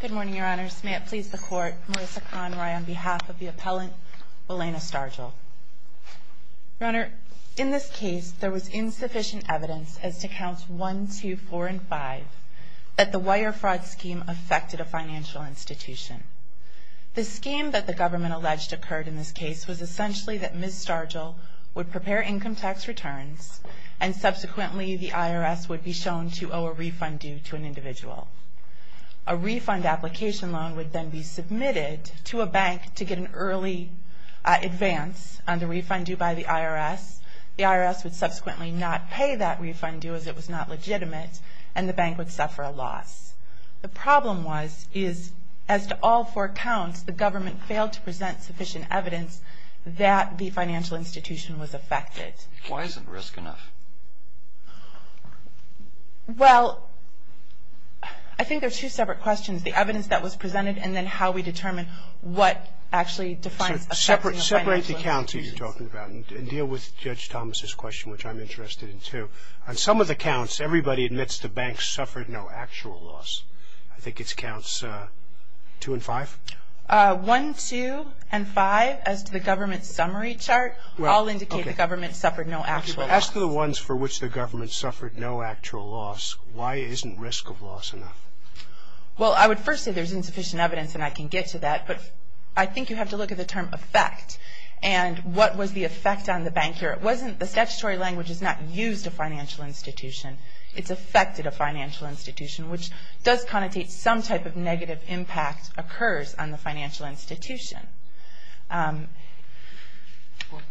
Good morning, Your Honor. May it please the Court, Marissa Conroy on behalf of the appellant, Willena Stargell. Your Honor, in this case, there was insufficient evidence as to Counts 1, 2, 4, and 5 that the wire fraud scheme affected a financial institution. The scheme that the government alleged occurred in this case was essentially that Ms. Stargell would prepare income tax returns, and subsequently the IRS would be shown to owe a refund due to an individual. A refund application loan would then be submitted to a bank to get an early advance on the refund due by the IRS. The IRS would subsequently not pay that refund due as it was not legitimate, and the bank would suffer a loss. The problem was, is as to all four counts, the government failed to present sufficient evidence that the financial institution was affected. Why isn't risk enough? Well, I think there are two separate questions. The evidence that was presented, and then how we determine what actually defines affecting a financial institution. Separate the counts that you're talking about, and deal with Judge Thomas' question, which I'm interested in, too. On some of the counts, everybody admits the bank suffered no actual loss. I think it's Counts 2 and 5? 1, 2, and 5, as to the government summary chart, all indicate the government suffered no actual loss. As to the ones for which the government suffered no actual loss, why isn't risk of loss enough? Well, I would first say there's insufficient evidence, and I can get to that. But I think you have to look at the term effect, and what was the effect on the bank here. The statutory language is not used a financial institution. It's affected a financial institution, which does connotate some type of negative impact occurs on the financial institution.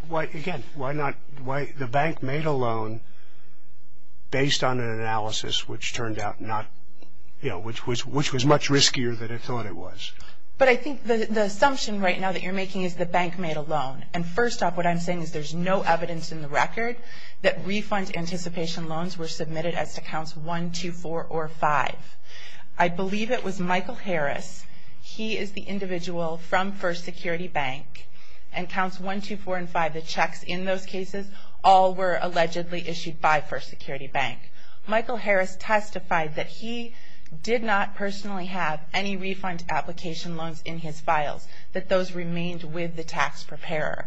Again, the bank made a loan based on an analysis, which turned out not, you know, which was much riskier than it thought it was. But I think the assumption right now that you're making is the bank made a loan. And first off, what I'm saying is there's no evidence in the record that refund anticipation loans were submitted as to Counts 1, 2, 4, or 5. I believe it was Michael Harris. He is the individual from First Security Bank. And Counts 1, 2, 4, and 5, the checks in those cases, all were allegedly issued by First Security Bank. Michael Harris testified that he did not personally have any refund application loans in his files, that those remained with the tax preparer.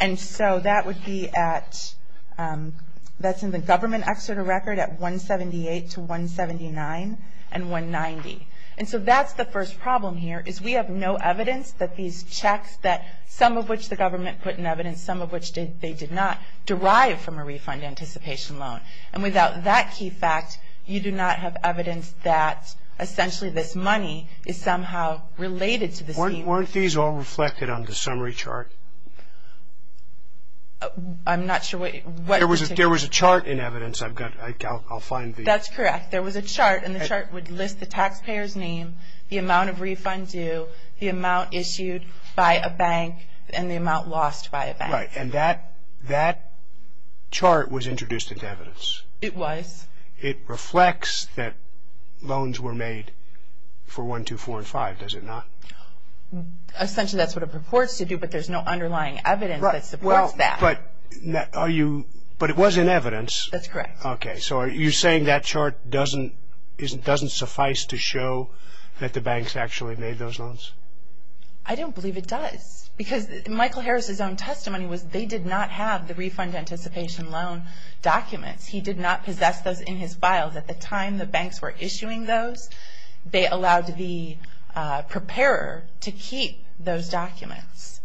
And so that would be at, that's in the government excerpt of record at 178 to 179 and 190. And so that's the first problem here is we have no evidence that these checks that some of which the government put in evidence, some of which they did not derive from a refund anticipation loan. And without that key fact, you do not have evidence that essentially this money is somehow related to the scheme. But weren't these all reflected on the summary chart? I'm not sure what. There was a chart in evidence. I'll find the. That's correct. There was a chart, and the chart would list the taxpayer's name, the amount of refund due, the amount issued by a bank, and the amount lost by a bank. Right. And that chart was introduced into evidence. It was. It reflects that loans were made for 1, 2, 4, and 5, does it not? Essentially that's what it purports to do, but there's no underlying evidence that supports that. Right. Well, but are you, but it was in evidence. That's correct. Okay. So are you saying that chart doesn't, doesn't suffice to show that the banks actually made those loans? I don't believe it does. Because Michael Harris' own testimony was they did not have the refund anticipation loan documents. He did not possess those in his files. At the time the banks were issuing those, they allowed the preparer to keep those documents.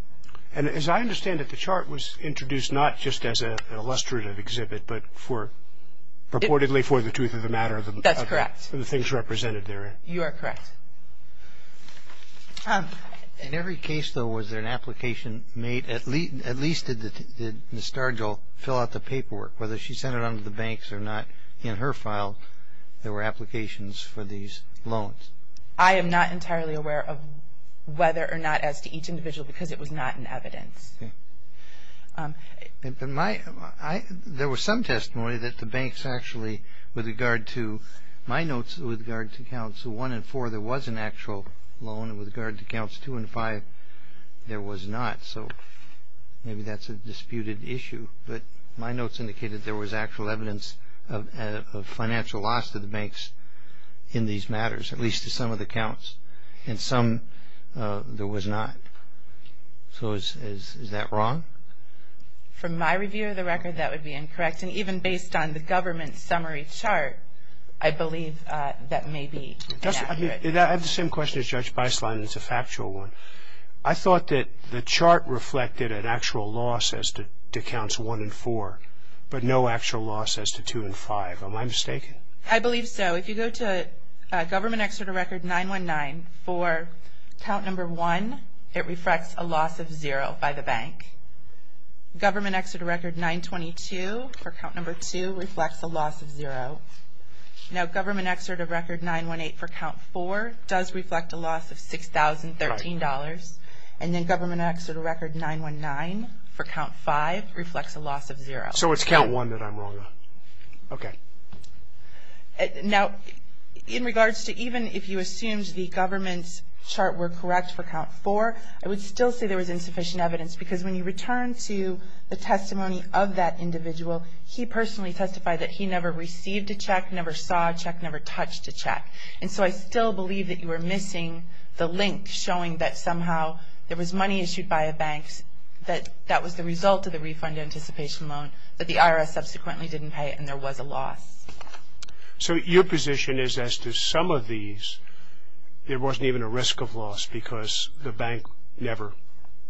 And as I understand it, the chart was introduced not just as an illustrative exhibit, but purportedly for the truth of the matter. That's correct. For the things represented there. You are correct. In every case, though, was there an application made, at least did Ms. Stargell fill out the paperwork, whether she sent it on to the banks or not, in her file, there were applications for these loans? I am not entirely aware of whether or not as to each individual, because it was not in evidence. Okay. There was some testimony that the banks actually, with regard to my notes, with regard to accounts 1 and 4, there was an actual loan, and with regard to accounts 2 and 5, there was not. So maybe that's a disputed issue. But my notes indicated there was actual evidence of financial loss to the banks in these matters, at least to some of the accounts. In some, there was not. So is that wrong? From my review of the record, that would be incorrect. And even based on the government summary chart, I believe that may be inaccurate. I have the same question as Judge Beislein, and it's a factual one. I thought that the chart reflected an actual loss as to accounts 1 and 4, but no actual loss as to 2 and 5. Am I mistaken? I believe so. If you go to Government Exeter Record 919, for account number 1, it reflects a loss of zero by the bank. Government Exeter Record 922, for account number 2, reflects a loss of zero. Now, Government Exeter Record 918, for account 4, does reflect a loss of $6,013. And then Government Exeter Record 919, for account 5, reflects a loss of zero. So it's account 1 that I'm wrong on. Okay. Now, in regards to even if you assumed the government's chart were correct for account 4, I would still say there was insufficient evidence, because when you return to the testimony of that individual, he personally testified that he never received a check, never saw a check, never touched a check. And so I still believe that you were missing the link showing that somehow there was money issued by a bank, that that was the result of the refund anticipation loan, that the IRS subsequently didn't pay, and there was a loss. So your position is as to some of these, there wasn't even a risk of loss because the bank never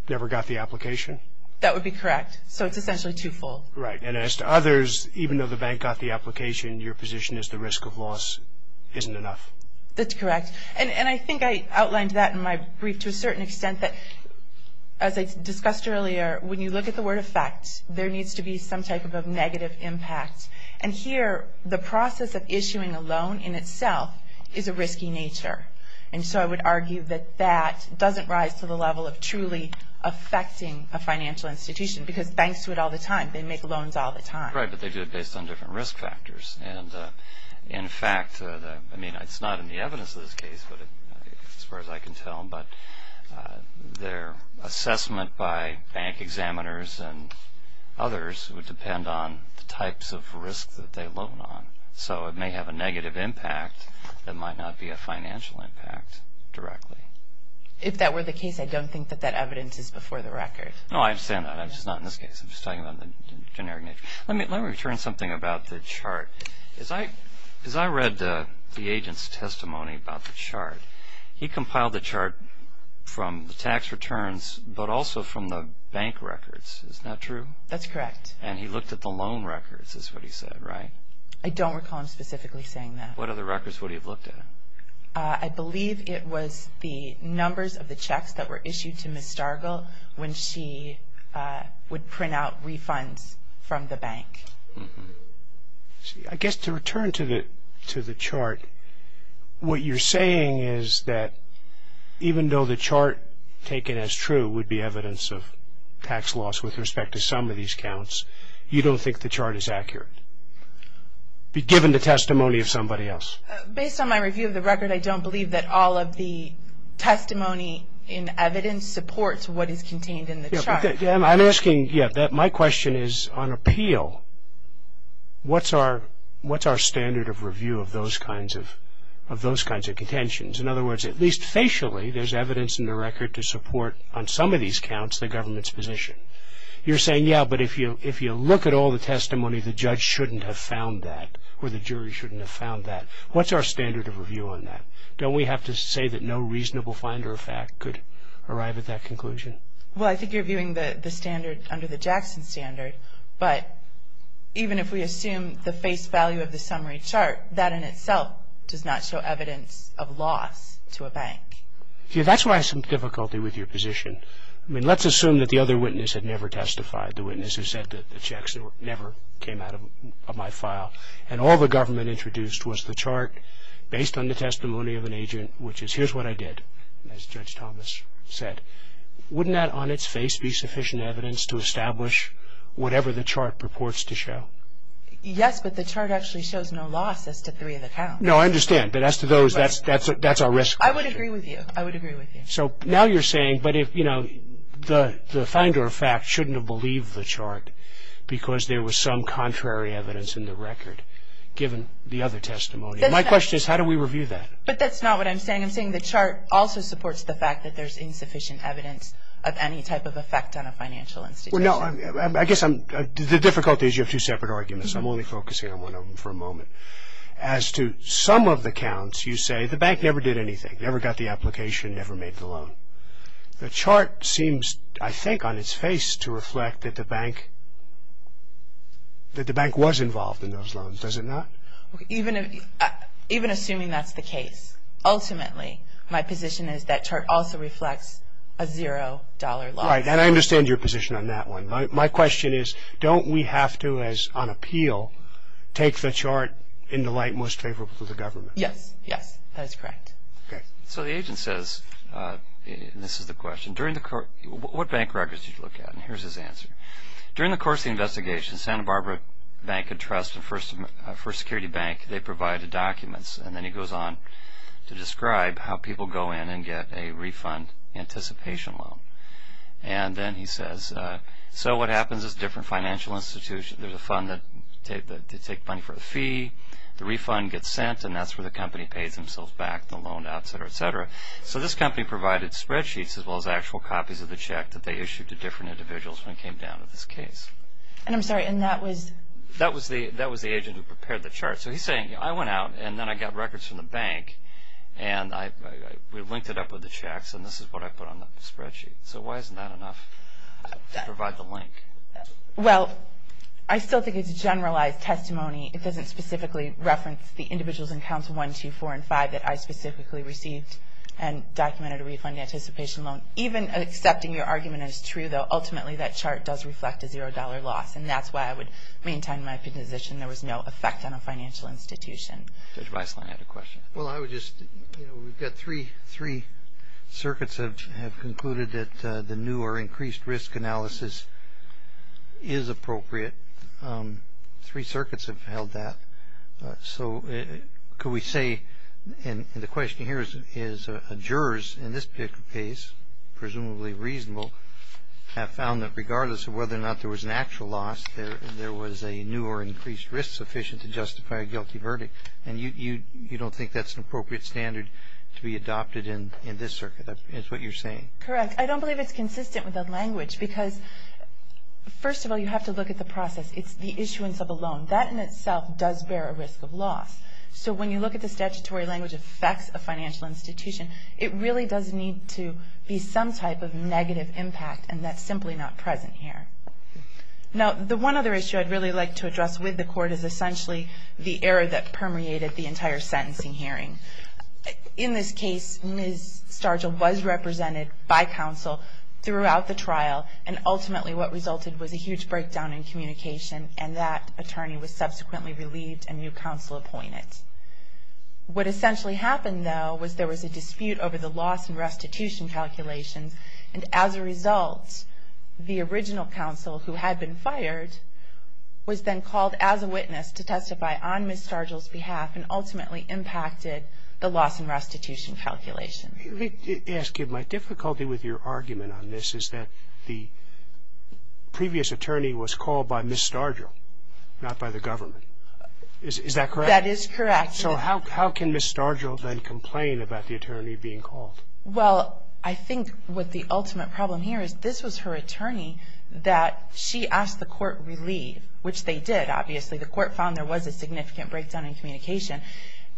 got the application? That would be correct. So it's essentially twofold. Right. And as to others, even though the bank got the application, your position is the risk of loss isn't enough? That's correct. And I think I outlined that in my brief to a certain extent that, as I discussed earlier, when you look at the word effect, there needs to be some type of negative impact. And here, the process of issuing a loan in itself is a risky nature. And so I would argue that that doesn't rise to the level of truly affecting a financial institution, because banks do it all the time. They make loans all the time. Right, but they do it based on different risk factors. And, in fact, I mean, it's not in the evidence of this case, as far as I can tell, but their assessment by bank examiners and others would depend on the types of risks that they loan on. So it may have a negative impact that might not be a financial impact directly. If that were the case, I don't think that that evidence is before the record. No, I understand that. It's just not in this case. I'm just talking about the generic nature. Let me return to something about the chart. As I read the agent's testimony about the chart, he compiled the chart from the tax returns, but also from the bank records. Is that true? That's correct. And he looked at the loan records, is what he said, right? I don't recall him specifically saying that. What other records would he have looked at? I believe it was the numbers of the checks that were issued to Ms. Stargel when she would print out refunds from the bank. I guess to return to the chart, what you're saying is that even though the chart, taken as true, would be evidence of tax loss with respect to some of these counts, you don't think the chart is accurate. Be given the testimony of somebody else. Based on my review of the record, I don't believe that all of the testimony in evidence supports what is contained in the chart. I'm asking, my question is, on appeal, what's our standard of review of those kinds of contentions? In other words, at least facially, there's evidence in the record to support on some of these counts the government's position. You're saying, yeah, but if you look at all the testimony, the judge shouldn't have found that, or the jury shouldn't have found that. What's our standard of review on that? Don't we have to say that no reasonable finder of fact could arrive at that conclusion? Well, I think you're viewing the standard under the Jackson standard, but even if we assume the face value of the summary chart, that in itself does not show evidence of loss to a bank. Yeah, that's why I have some difficulty with your position. I mean, let's assume that the other witness had never testified, the witness who said that the checks never came out of my file, and all the government introduced was the chart based on the testimony of an agent, which is, here's what I did, as Judge Thomas said. Wouldn't that on its face be sufficient evidence to establish whatever the chart purports to show? Yes, but the chart actually shows no loss as to three of the counts. No, I understand, but as to those, that's our risk. I would agree with you. I would agree with you. So now you're saying, but if, you know, the finder of fact shouldn't have believed the chart because there was some contrary evidence in the record given the other testimony. My question is, how do we review that? But that's not what I'm saying. I'm saying the chart also supports the fact that there's insufficient evidence of any type of effect on a financial institution. Well, no, I guess the difficulty is you have two separate arguments. I'm only focusing on one of them for a moment. As to some of the counts, you say the bank never did anything, never got the application, never made the loan. The chart seems, I think, on its face to reflect that the bank was involved in those loans. Does it not? Even assuming that's the case, ultimately, my position is that chart also reflects a zero dollar loss. Right, and I understand your position on that one. My question is, don't we have to, as on appeal, take the chart in the light most favorable to the government? Yes, yes, that is correct. So the agent says, and this is the question, what bank records did you look at? And here's his answer. During the course of the investigation, Santa Barbara Bank and Trust, the first security bank, they provided documents. And then he goes on to describe how people go in and get a refund anticipation loan. And then he says, so what happens is different financial institutions, there's a fund that they take money for a fee, the refund gets sent, and that's where the company pays themselves back, the loan, et cetera, et cetera. So this company provided spreadsheets as well as actual copies of the check that they issued to different individuals when it came down to this case. And I'm sorry, and that was? That was the agent who prepared the chart. So he's saying, I went out, and then I got records from the bank, and we linked it up with the checks, and this is what I put on the spreadsheet. So why isn't that enough to provide the link? Well, I still think it's a generalized testimony. It doesn't specifically reference the individuals in Council 1, 2, 4, and 5 that I specifically received and documented a refund anticipation loan. Even accepting your argument as true, though, ultimately that chart does reflect a $0 loss, and that's why I would maintain my position there was no effect on a financial institution. Judge Weisslinger had a question. Well, I would just, you know, we've got three circuits that have concluded that the new or increased risk analysis is appropriate. Three circuits have held that. So could we say, and the question here is, jurors in this particular case, presumably reasonable, have found that regardless of whether or not there was an actual loss, there was a new or increased risk sufficient to justify a guilty verdict. And you don't think that's an appropriate standard to be adopted in this circuit, is what you're saying? Correct. I don't believe it's consistent with the language, because first of all, you have to look at the process. It's the issuance of a loan. That in itself does bear a risk of loss. So when you look at the statutory language of facts of financial institution, it really does need to be some type of negative impact, and that's simply not present here. Now, the one other issue I'd really like to address with the Court is essentially the error that permeated the entire sentencing hearing. In this case, Ms. Stargill was represented by counsel throughout the trial, and ultimately what resulted was a huge breakdown in communication, and that attorney was subsequently relieved and new counsel appointed. What essentially happened, though, was there was a dispute over the loss and restitution calculations, and as a result, the original counsel who had been fired was then called as a witness to testify on Ms. Stargill's behalf and ultimately impacted the loss and restitution calculations. Let me ask you, my difficulty with your argument on this is that the previous attorney was called by Ms. Stargill, not by the government. Is that correct? That is correct. So how can Ms. Stargill then complain about the attorney being called? Well, I think what the ultimate problem here is this was her attorney that she asked the Court to relieve, which they did, obviously. The Court found there was a significant breakdown in communication.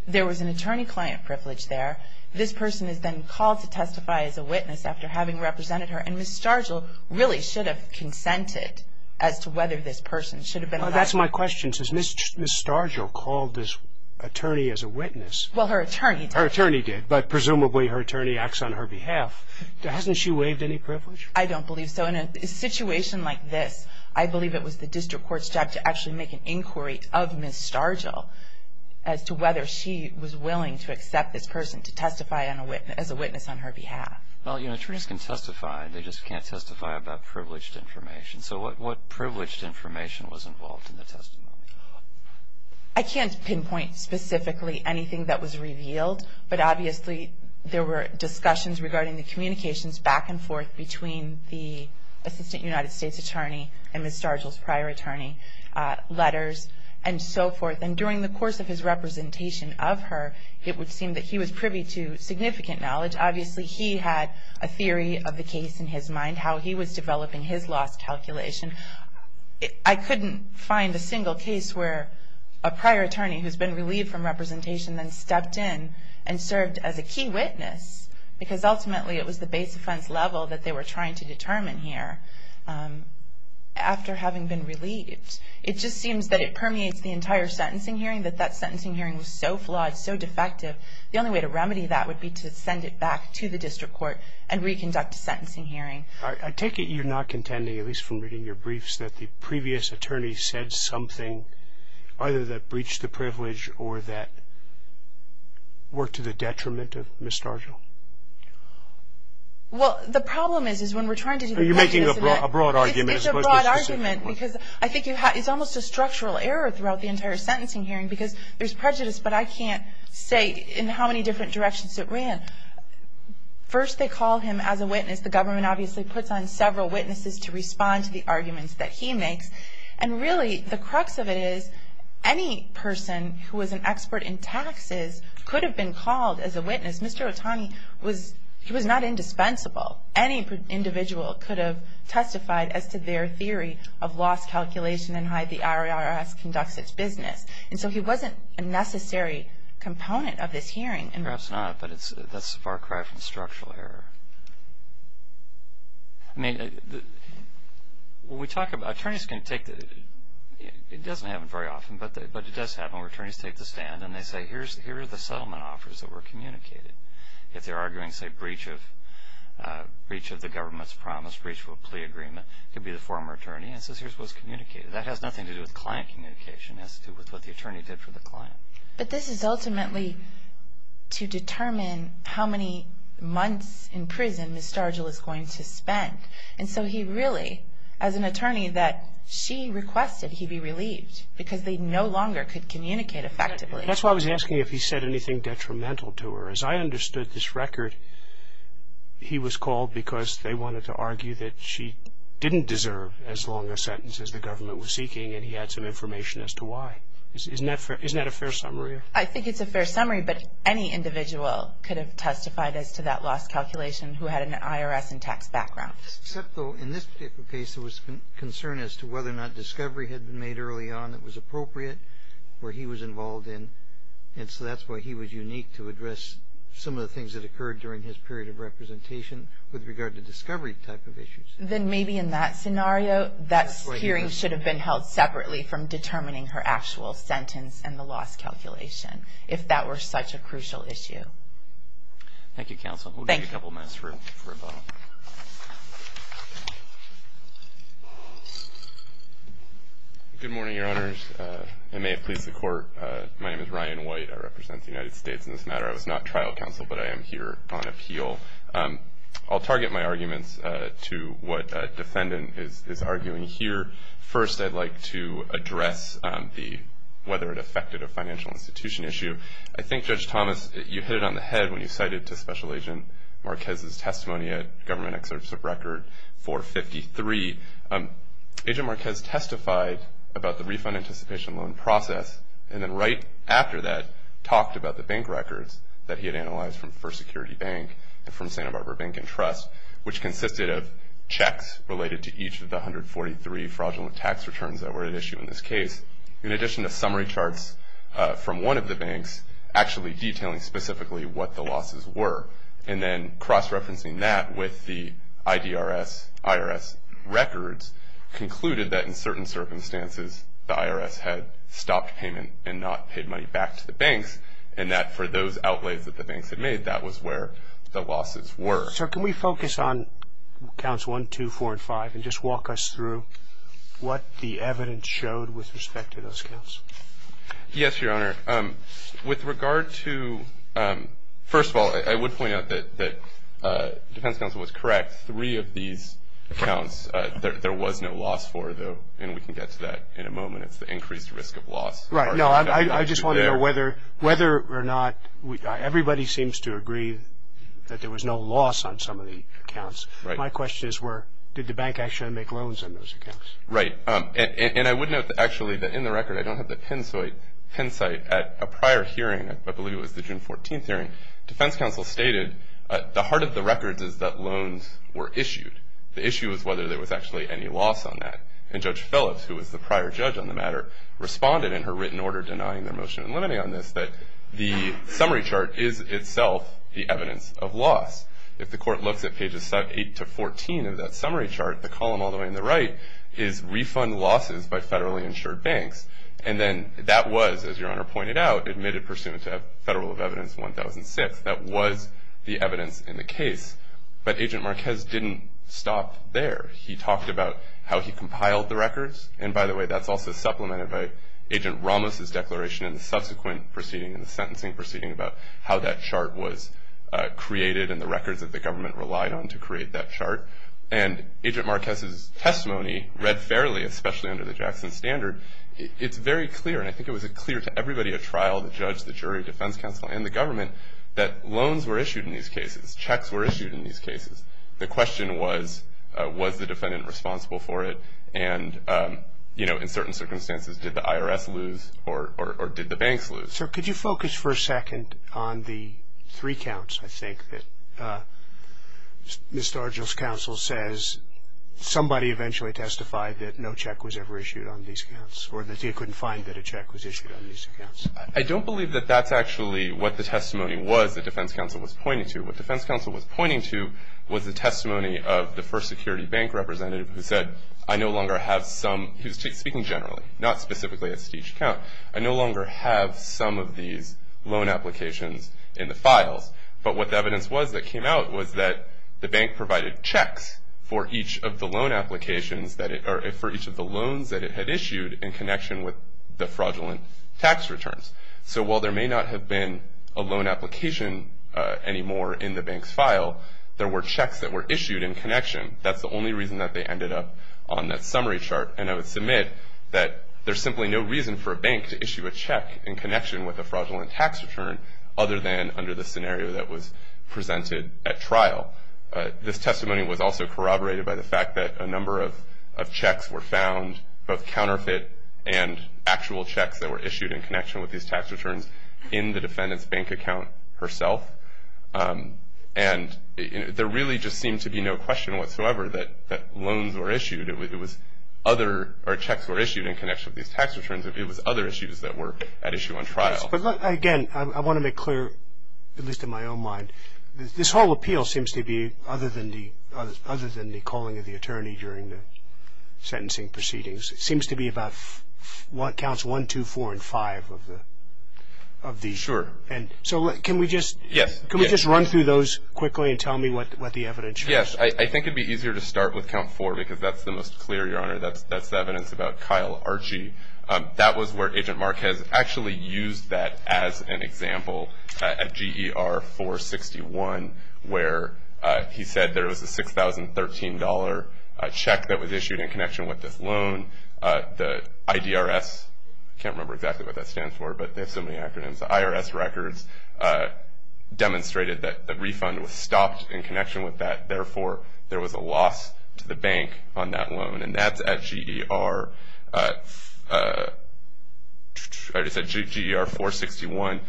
There was an attorney-client privilege there. This person is then called to testify as a witness after having represented her, and Ms. Stargill really should have consented as to whether this person should have been allowed to testify. That's my question. Since Ms. Stargill called this attorney as a witness... Well, her attorney did. Her attorney did, but presumably her attorney acts on her behalf. Hasn't she waived any privilege? I don't believe so. So in a situation like this, I believe it was the District Court's job to actually make an inquiry of Ms. Stargill as to whether she was willing to accept this person to testify as a witness on her behalf. Well, attorneys can testify. They just can't testify about privileged information. So what privileged information was involved in the testimony? I can't pinpoint specifically anything that was revealed, but obviously there were discussions regarding the communications back and forth between the Assistant United States Attorney and Ms. Stargill's prior attorney, letters, and so forth. And during the course of his representation of her, it would seem that he was privy to significant knowledge. Obviously he had a theory of the case in his mind, how he was developing his loss calculation. I couldn't find a single case where a prior attorney who's been relieved from representation then stepped in and served as a key witness, because ultimately it was the base offense level that they were trying to determine here. After having been relieved, it just seems that it permeates the entire sentencing hearing, that that sentencing hearing was so flawed, so defective, the only way to remedy that would be to send it back to the District Court and reconduct a sentencing hearing. I take it you're not contending, at least from reading your briefs, that the previous attorney said something either that breached the privilege or that worked to the detriment of Ms. Stargill? Well, the problem is, is when we're trying to do the witness event... You're making a broad argument, as opposed to a specific one. It's a broad argument, because I think it's almost a structural error throughout the entire sentencing hearing, because there's prejudice, but I can't say in how many different directions it ran. First, they call him as a witness. The government obviously puts on several witnesses to respond to the arguments that he makes. And really, the crux of it is, any person who was an expert in taxes could have been called as a witness. Mr. Otani was not indispensable. Any individual could have testified as to their theory of loss calculation and how the IRS conducts its business. And so he wasn't a necessary component of this hearing. Perhaps not, but that's a far cry from structural error. I mean, attorneys can take the... It doesn't happen very often, but it does happen where attorneys take the stand and they say, here are the settlement offers that were communicated. If they're arguing, say, breach of the government's promise, breach of a plea agreement, it could be the former attorney, and says, here's what was communicated. That has nothing to do with client communication. It has to do with what the attorney did for the client. But this is ultimately to determine how many months in prison Ms. Stargill is going to spend. And so he really, as an attorney, that she requested he be relieved, because they no longer could communicate effectively. That's why I was asking if he said anything detrimental to her. As I understood this record, he was called because they wanted to argue that she didn't deserve as long a sentence as the government was seeking, and he had some information as to why. Isn't that a fair summary? I think it's a fair summary, but any individual could have testified as to that lost calculation who had an IRS and tax background. Except, though, in this particular case, there was concern as to whether or not discovery had been made early on that was appropriate, where he was involved in. And so that's why he was unique to address some of the things that occurred during his period of representation with regard to discovery type of issues. Then maybe in that scenario, that hearing should have been held separately from determining her actual sentence and the loss calculation, if that were such a crucial issue. Thank you, Counsel. We'll take a couple minutes for a vote. Good morning, Your Honors. I may have pleased the Court. My name is Ryan White. I represent the United States in this matter. I was not trial counsel, but I am here on appeal. I'll target my arguments to what a defendant is arguing here. First, I'd like to address whether it affected a financial institution issue. I think, Judge Thomas, you hit it on the head when you cited to Special Agent Marquez's testimony at Government Excerpts of Record 453. Agent Marquez testified about the refund anticipation loan process, and then right after that talked about the bank records that he had analyzed from First Security Bank. They're from Santa Barbara Bank and Trust, which consisted of checks related to each of the 143 fraudulent tax returns that were at issue in this case, in addition to summary charts from one of the banks actually detailing specifically what the losses were, and then cross-referencing that with the IDRS, IRS records, concluded that in certain circumstances the IRS had stopped payment and not paid money back to the banks, and that for those outlays that the banks had made, that was where the losses were. Sir, can we focus on counts 1, 2, 4, and 5 and just walk us through what the evidence showed with respect to those counts? Yes, Your Honor. With regard to, first of all, I would point out that defense counsel was correct. Three of these counts there was no loss for, though, and we can get to that in a moment. It's the increased risk of loss. Right. No, I just want to know whether or not everybody seems to agree that there was no loss on some of the counts. My question is did the bank actually make loans on those accounts? Right, and I would note, actually, that in the record, I don't have the pin site at a prior hearing, I believe it was the June 14th hearing. Defense counsel stated the heart of the record is that loans were issued. The issue is whether there was actually any loss on that, and Judge Phillips, who was the prior judge on the matter, responded in her written order denying their motion in limiting on this that the summary chart is itself the evidence of loss. If the court looks at pages 8 to 14 of that summary chart, the column all the way on the right is refund losses by federally insured banks, and then that was, as Your Honor pointed out, admitted pursuant to Federal of Evidence 1006. That was the evidence in the case, but Agent Marquez didn't stop there. He talked about how he compiled the records, and by the way, that's also supplemented by Agent Ramos' declaration in the subsequent proceeding, in the sentencing proceeding, about how that chart was created and the records that the government relied on to create that chart. And Agent Marquez's testimony, read fairly, especially under the Jackson Standard, it's very clear, and I think it was clear to everybody at trial, the judge, the jury, defense counsel, and the government, that loans were issued in these cases. Checks were issued in these cases. The question was, was the defendant responsible for it, and, you know, in certain circumstances, did the IRS lose or did the banks lose? Sir, could you focus for a second on the three counts, I think, that Mr. Argyle's counsel says somebody eventually testified that no check was ever issued on these counts or that he couldn't find that a check was issued on these accounts? I don't believe that that's actually what the testimony was that defense counsel was pointing to. What defense counsel was pointing to was the testimony of the first security bank representative who said, I no longer have some, he was speaking generally, not specifically at each count, I no longer have some of these loan applications in the files. But what the evidence was that came out was that the bank provided checks for each of the loan applications that it, or for each of the loans that it had issued in connection with the fraudulent tax returns. So while there may not have been a loan application anymore in the bank's file, there were checks that were issued in connection. That's the only reason that they ended up on that summary chart. And I would submit that there's simply no reason for a bank to issue a check in connection with a fraudulent tax return other than under the scenario that was presented at trial. This testimony was also corroborated by the fact that a number of checks were found, both counterfeit and actual checks that were issued in connection with these tax returns, in the defendant's bank account herself. And there really just seemed to be no question whatsoever that loans were issued. It was other, or checks were issued in connection with these tax returns. It was other issues that were at issue on trial. But again, I want to make clear, at least in my own mind, this whole appeal seems to be, other than the calling of the attorney during the sentencing proceedings, it seems to be about counts 1, 2, 4, and 5 of these. Sure. So can we just run through those quickly and tell me what the evidence shows? Yes. I think it would be easier to start with count 4 because that's the most clear, Your Honor. That's the evidence about Kyle Archie. That was where Agent Marquez actually used that as an example at GER 461, where he said there was a $6,013 check that was issued in connection with this loan. The IDRS, I can't remember exactly what that stands for, but they have so many acronyms. The IRS records demonstrated that the refund was stopped in connection with that. Therefore, there was a loss to the bank on that loan. And that's at GER 461.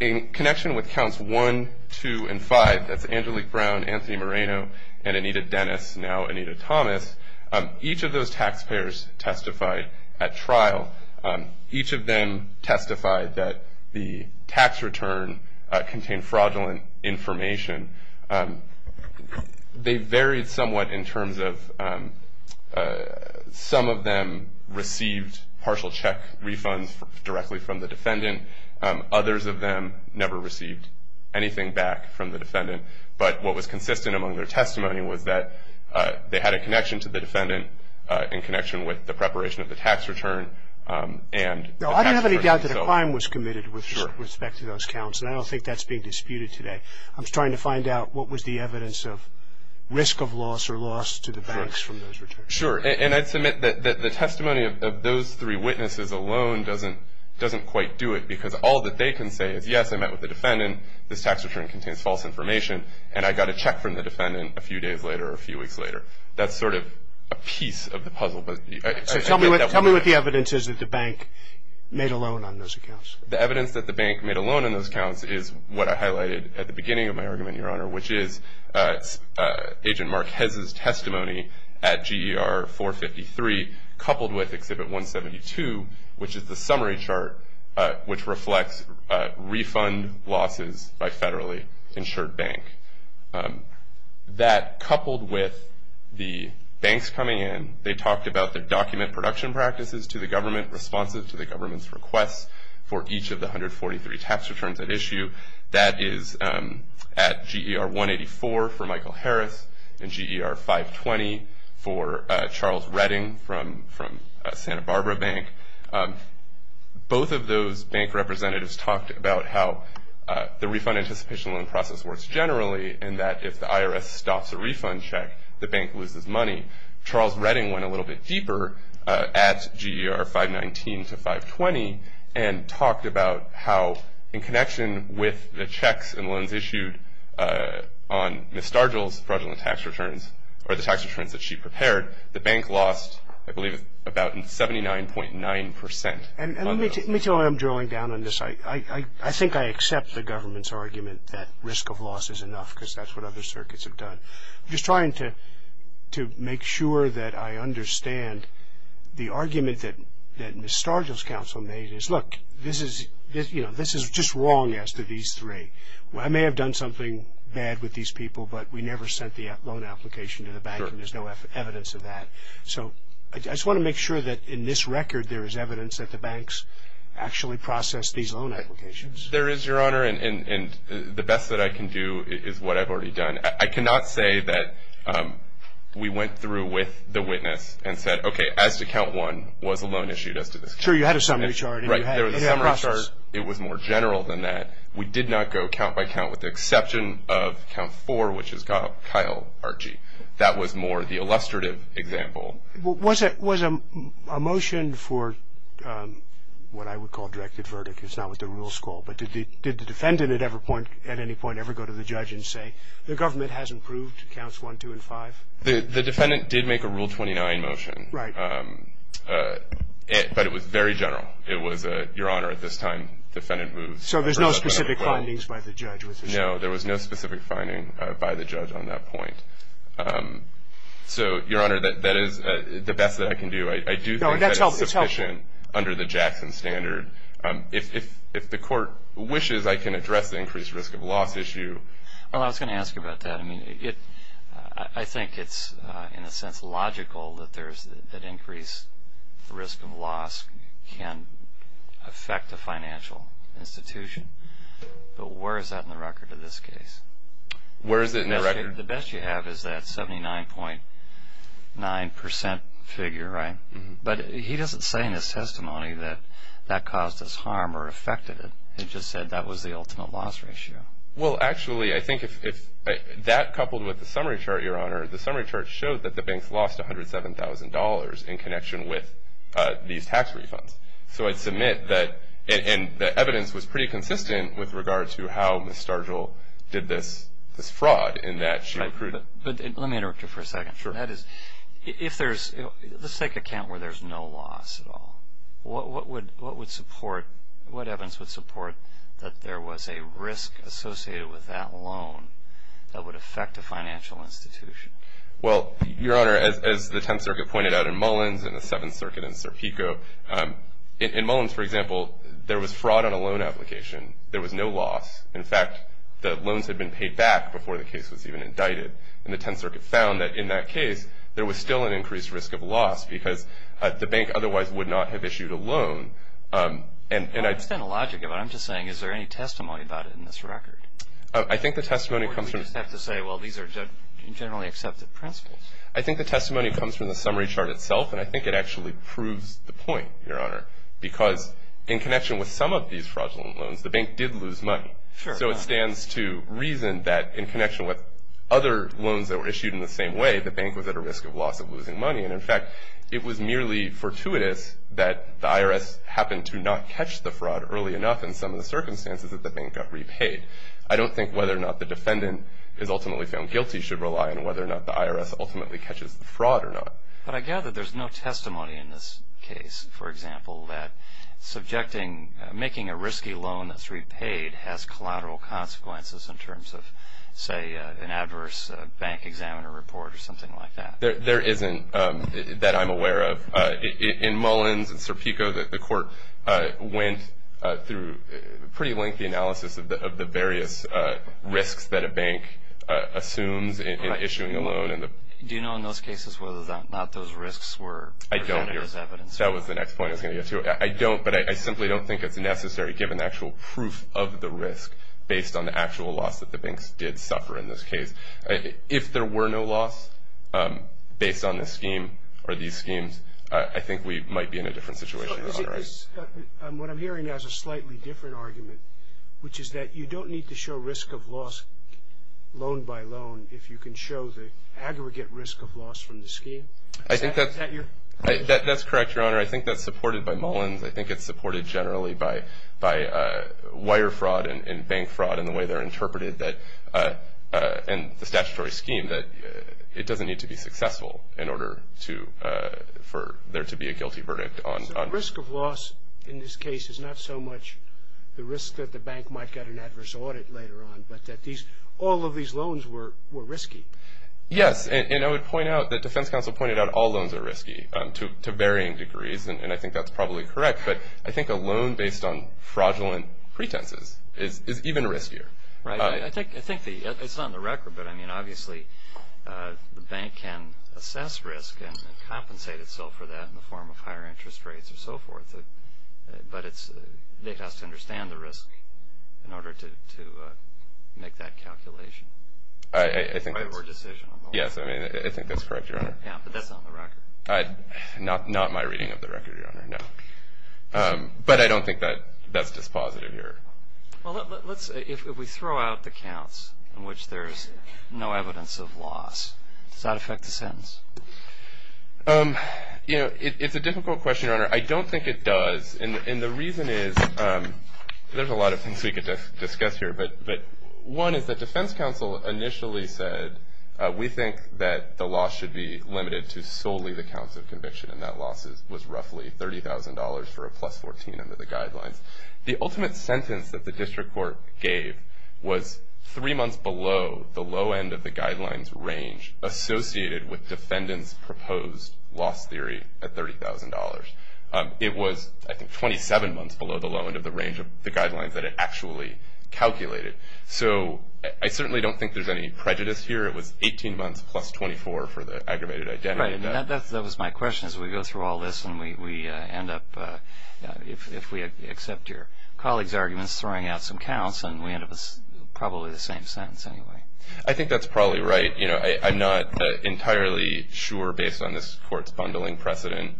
In connection with counts 1, 2, and 5, that's Angelique Brown, Anthony Moreno, and Anita Dennis, now Anita Thomas, each of those taxpayers testified at trial. Each of them testified that the tax return contained fraudulent information. They varied somewhat in terms of some of them received partial check refunds directly from the defendant. Others of them never received anything back from the defendant. But what was consistent among their testimony was that they had a connection to the defendant in connection with the preparation of the tax return. I don't have any doubt that a crime was committed with respect to those counts, and I don't think that's being disputed today. I'm just trying to find out what was the evidence of risk of loss or loss to the banks from those returns. Sure. And I'd submit that the testimony of those three witnesses alone doesn't quite do it because all that they can say is, yes, I met with the defendant, this tax return contains false information, and I got a check from the defendant a few days later or a few weeks later. That's sort of a piece of the puzzle. So tell me what the evidence is that the bank made a loan on those accounts. The evidence that the bank made a loan on those accounts is what I highlighted at the beginning of my argument, Your Honor, which is Agent Marquez's testimony at GER 453 coupled with Exhibit 172, which is the summary chart which reflects refund losses by federally insured bank. That coupled with the banks coming in, they talked about their document production practices to the government, responsive to the government's requests for each of the 143 tax returns at issue. That is at GER 184 for Michael Harris and GER 520 for Charles Redding from Santa Barbara Bank. Both of those bank representatives talked about how the refund anticipation loan process works generally and that if the IRS stops a refund check, the bank loses money. Charles Redding went a little bit deeper at GER 519 to 520 and talked about how in connection with the checks and loans issued on Ms. Stargill's fraudulent tax returns or the tax returns that she prepared, the bank lost, I believe, about 79.9 percent. Let me tell you why I'm drilling down on this. I think I accept the government's argument that risk of loss is enough because that's what other circuits have done. I'm just trying to make sure that I understand the argument that Ms. Stargill's counsel made is, look, this is just wrong as to these three. I may have done something bad with these people, but we never sent the loan application to the bank. There's no evidence of that. I just want to make sure that in this record there is evidence that the banks actually process these loan applications. There is, Your Honor, and the best that I can do is what I've already done. I cannot say that we went through with the witness and said, okay, as to count one, was a loan issued as to this count. Sure, you had a summary chart. Right, there was a summary chart. It was more general than that. We did not go count by count with the exception of count four, which is Kyle Archie. That was more the illustrative example. Was a motion for what I would call directed verdict, it's not what the rules call, but did the defendant at any point ever go to the judge and say, the government has approved counts one, two, and five? The defendant did make a Rule 29 motion. Right. But it was very general. It was, Your Honor, at this time defendant moves. So there's no specific findings by the judge. No, there was no specific finding by the judge on that point. So, Your Honor, that is the best that I can do. I do think that is sufficient under the Jackson standard. If the court wishes, I can address the increased risk of loss issue. Well, I was going to ask you about that. I think it's, in a sense, logical that increased risk of loss can affect a financial institution. But where is that in the record in this case? Where is it in the record? The best you have is that 79.9% figure, right? But he doesn't say in his testimony that that caused us harm or affected it. He just said that was the ultimate loss ratio. Well, actually, I think if that coupled with the summary chart, Your Honor, the summary chart showed that the banks lost $107,000 in connection with these tax refunds. So I'd submit that the evidence was pretty consistent with regard to how Ms. Stargill did this fraud in that she accrued. Let me interrupt you for a second. Sure. Let's take account where there's no loss at all. What evidence would support that there was a risk associated with that loan that would affect a financial institution? Well, Your Honor, as the Tenth Circuit pointed out in Mullins and the Seventh Circuit in Serpico, in Mullins, for example, there was fraud on a loan application. There was no loss. In fact, the loans had been paid back before the case was even indicted. And the Tenth Circuit found that in that case there was still an increased risk of loss because the bank otherwise would not have issued a loan. I understand the logic of it. I'm just saying is there any testimony about it in this record? I think the testimony comes from the summary chart itself, and I think it actually proves the point, Your Honor, because in connection with some of these fraudulent loans, the bank did lose money. So it stands to reason that in connection with other loans that were issued in the same way, the bank was at a risk of loss of losing money. And, in fact, it was merely fortuitous that the IRS happened to not catch the fraud early enough in some of the circumstances that the bank got repaid. I don't think whether or not the defendant is ultimately found guilty should rely on whether or not the IRS ultimately catches the fraud or not. But I gather there's no testimony in this case, for example, that subjecting making a risky loan that's repaid has collateral consequences in terms of, say, an adverse bank examiner report or something like that. There isn't that I'm aware of. In Mullins and Serpico, the court went through a pretty lengthy analysis of the various risks that a bank assumes in issuing a loan. Do you know in those cases whether or not those risks were presented as evidence? I don't, Your Honor. That was the next point I was going to get to. I don't, but I simply don't think it's necessary, given the actual proof of the risk, based on the actual loss that the banks did suffer in this case. If there were no loss based on this scheme or these schemes, I think we might be in a different situation, Your Honor. What I'm hearing now is a slightly different argument, which is that you don't need to show risk of loss loan by loan if you can show the aggregate risk of loss from the scheme. That's correct, Your Honor. I think that's supported by Mullins. I think it's supported generally by wire fraud and bank fraud and the way they're interpreted in the statutory scheme, that it doesn't need to be successful for there to be a guilty verdict. So risk of loss in this case is not so much the risk that the bank might get an adverse audit later on, but that all of these loans were risky. Yes, and I would point out that defense counsel pointed out all loans are risky to varying degrees, and I think that's probably correct. But I think a loan based on fraudulent pretenses is even riskier. Right. I think it's on the record, but I mean obviously the bank can assess risk and compensate itself for that in the form of higher interest rates and so forth. But it has to understand the risk in order to make that calculation. I think that's correct, Your Honor. Yeah, but that's not on the record. Not my reading of the record, Your Honor, no. But I don't think that's dispositive here. Well, let's say if we throw out the counts in which there's no evidence of loss, does that affect the sentence? It's a difficult question, Your Honor. I don't think it does, and the reason is there's a lot of things we could discuss here. But one is that defense counsel initially said, we think that the loss should be limited to solely the counts of conviction, and that loss was roughly $30,000 for a plus 14 under the guidelines. The ultimate sentence that the district court gave was three months below the low end of the guidelines range associated with defendants' proposed loss theory at $30,000. It was, I think, 27 months below the low end of the range of the guidelines that it actually calculated. So I certainly don't think there's any prejudice here. It was 18 months plus 24 for the aggravated identity. Right. That was my question. As we go through all this and we end up, if we accept your colleague's arguments, throwing out some counts and we end up with probably the same sentence anyway. I think that's probably right. I'm not entirely sure, based on this court's bundling precedent,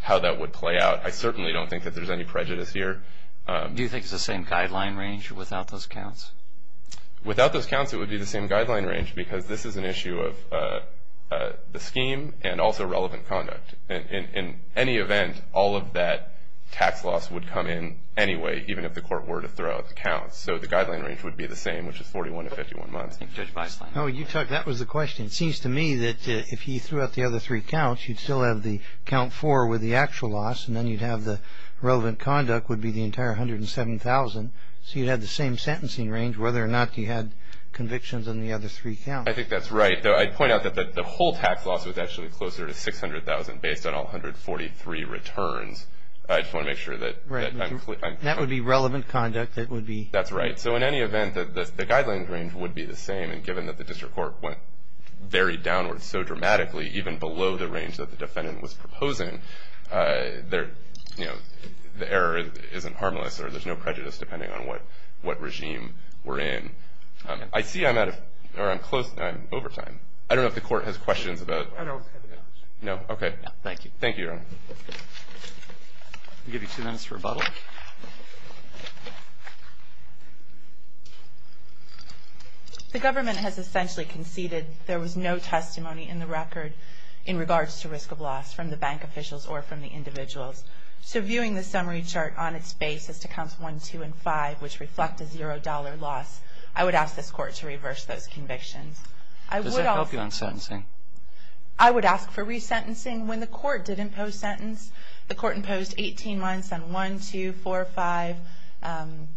how that would play out. I certainly don't think that there's any prejudice here. Do you think it's the same guideline range without those counts? Without those counts, it would be the same guideline range, because this is an issue of the scheme and also relevant conduct. In any event, all of that tax loss would come in anyway, even if the court were to throw out the counts. So the guideline range would be the same, which is 41 to 51 months. That was the question. It seems to me that if he threw out the other three counts, you'd still have the count four with the actual loss, and then you'd have the relevant conduct would be the entire 107,000. So you'd have the same sentencing range, whether or not you had convictions on the other three counts. I think that's right. I'd point out that the whole tax loss was actually closer to 600,000, based on all 143 returns. I just want to make sure that I'm clear. That would be relevant conduct. That's right. So in any event, the guideline range would be the same, and given that the district court went very downward so dramatically, even below the range that the defendant was proposing, the error isn't harmless or there's no prejudice, depending on what regime we're in. I see I'm out of time. I'm close. I'm over time. I don't know if the court has questions about. No. Okay. Thank you. Thank you, Your Honor. I'll give you two minutes for rebuttal. The government has essentially conceded there was no testimony in the record in regards to risk of loss from the bank officials or from the individuals. So viewing the summary chart on its base as to Counts 1, 2, and 5, which reflect a $0 loss, I would ask this court to reverse those convictions. Does that help you on sentencing? I would ask for resentencing when the court did impose sentence. The court imposed 18 months on 1, 2, 4, 5,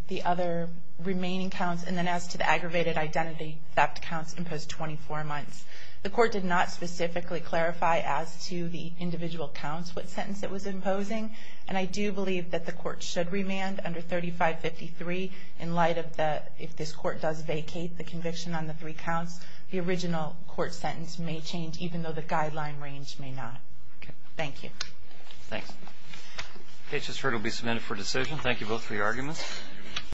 the other remaining counts, and then as to the aggravated identity theft counts imposed 24 months. The court did not specifically clarify as to the individual counts what sentence it was imposing, and I do believe that the court should remand under 3553 in light of the, if this court does vacate the conviction on the three counts, the original court sentence may change even though the guideline range may not. Okay. Thank you. Thanks. Okay, it's just heard it will be submitted for decision. Thank you both for your arguments.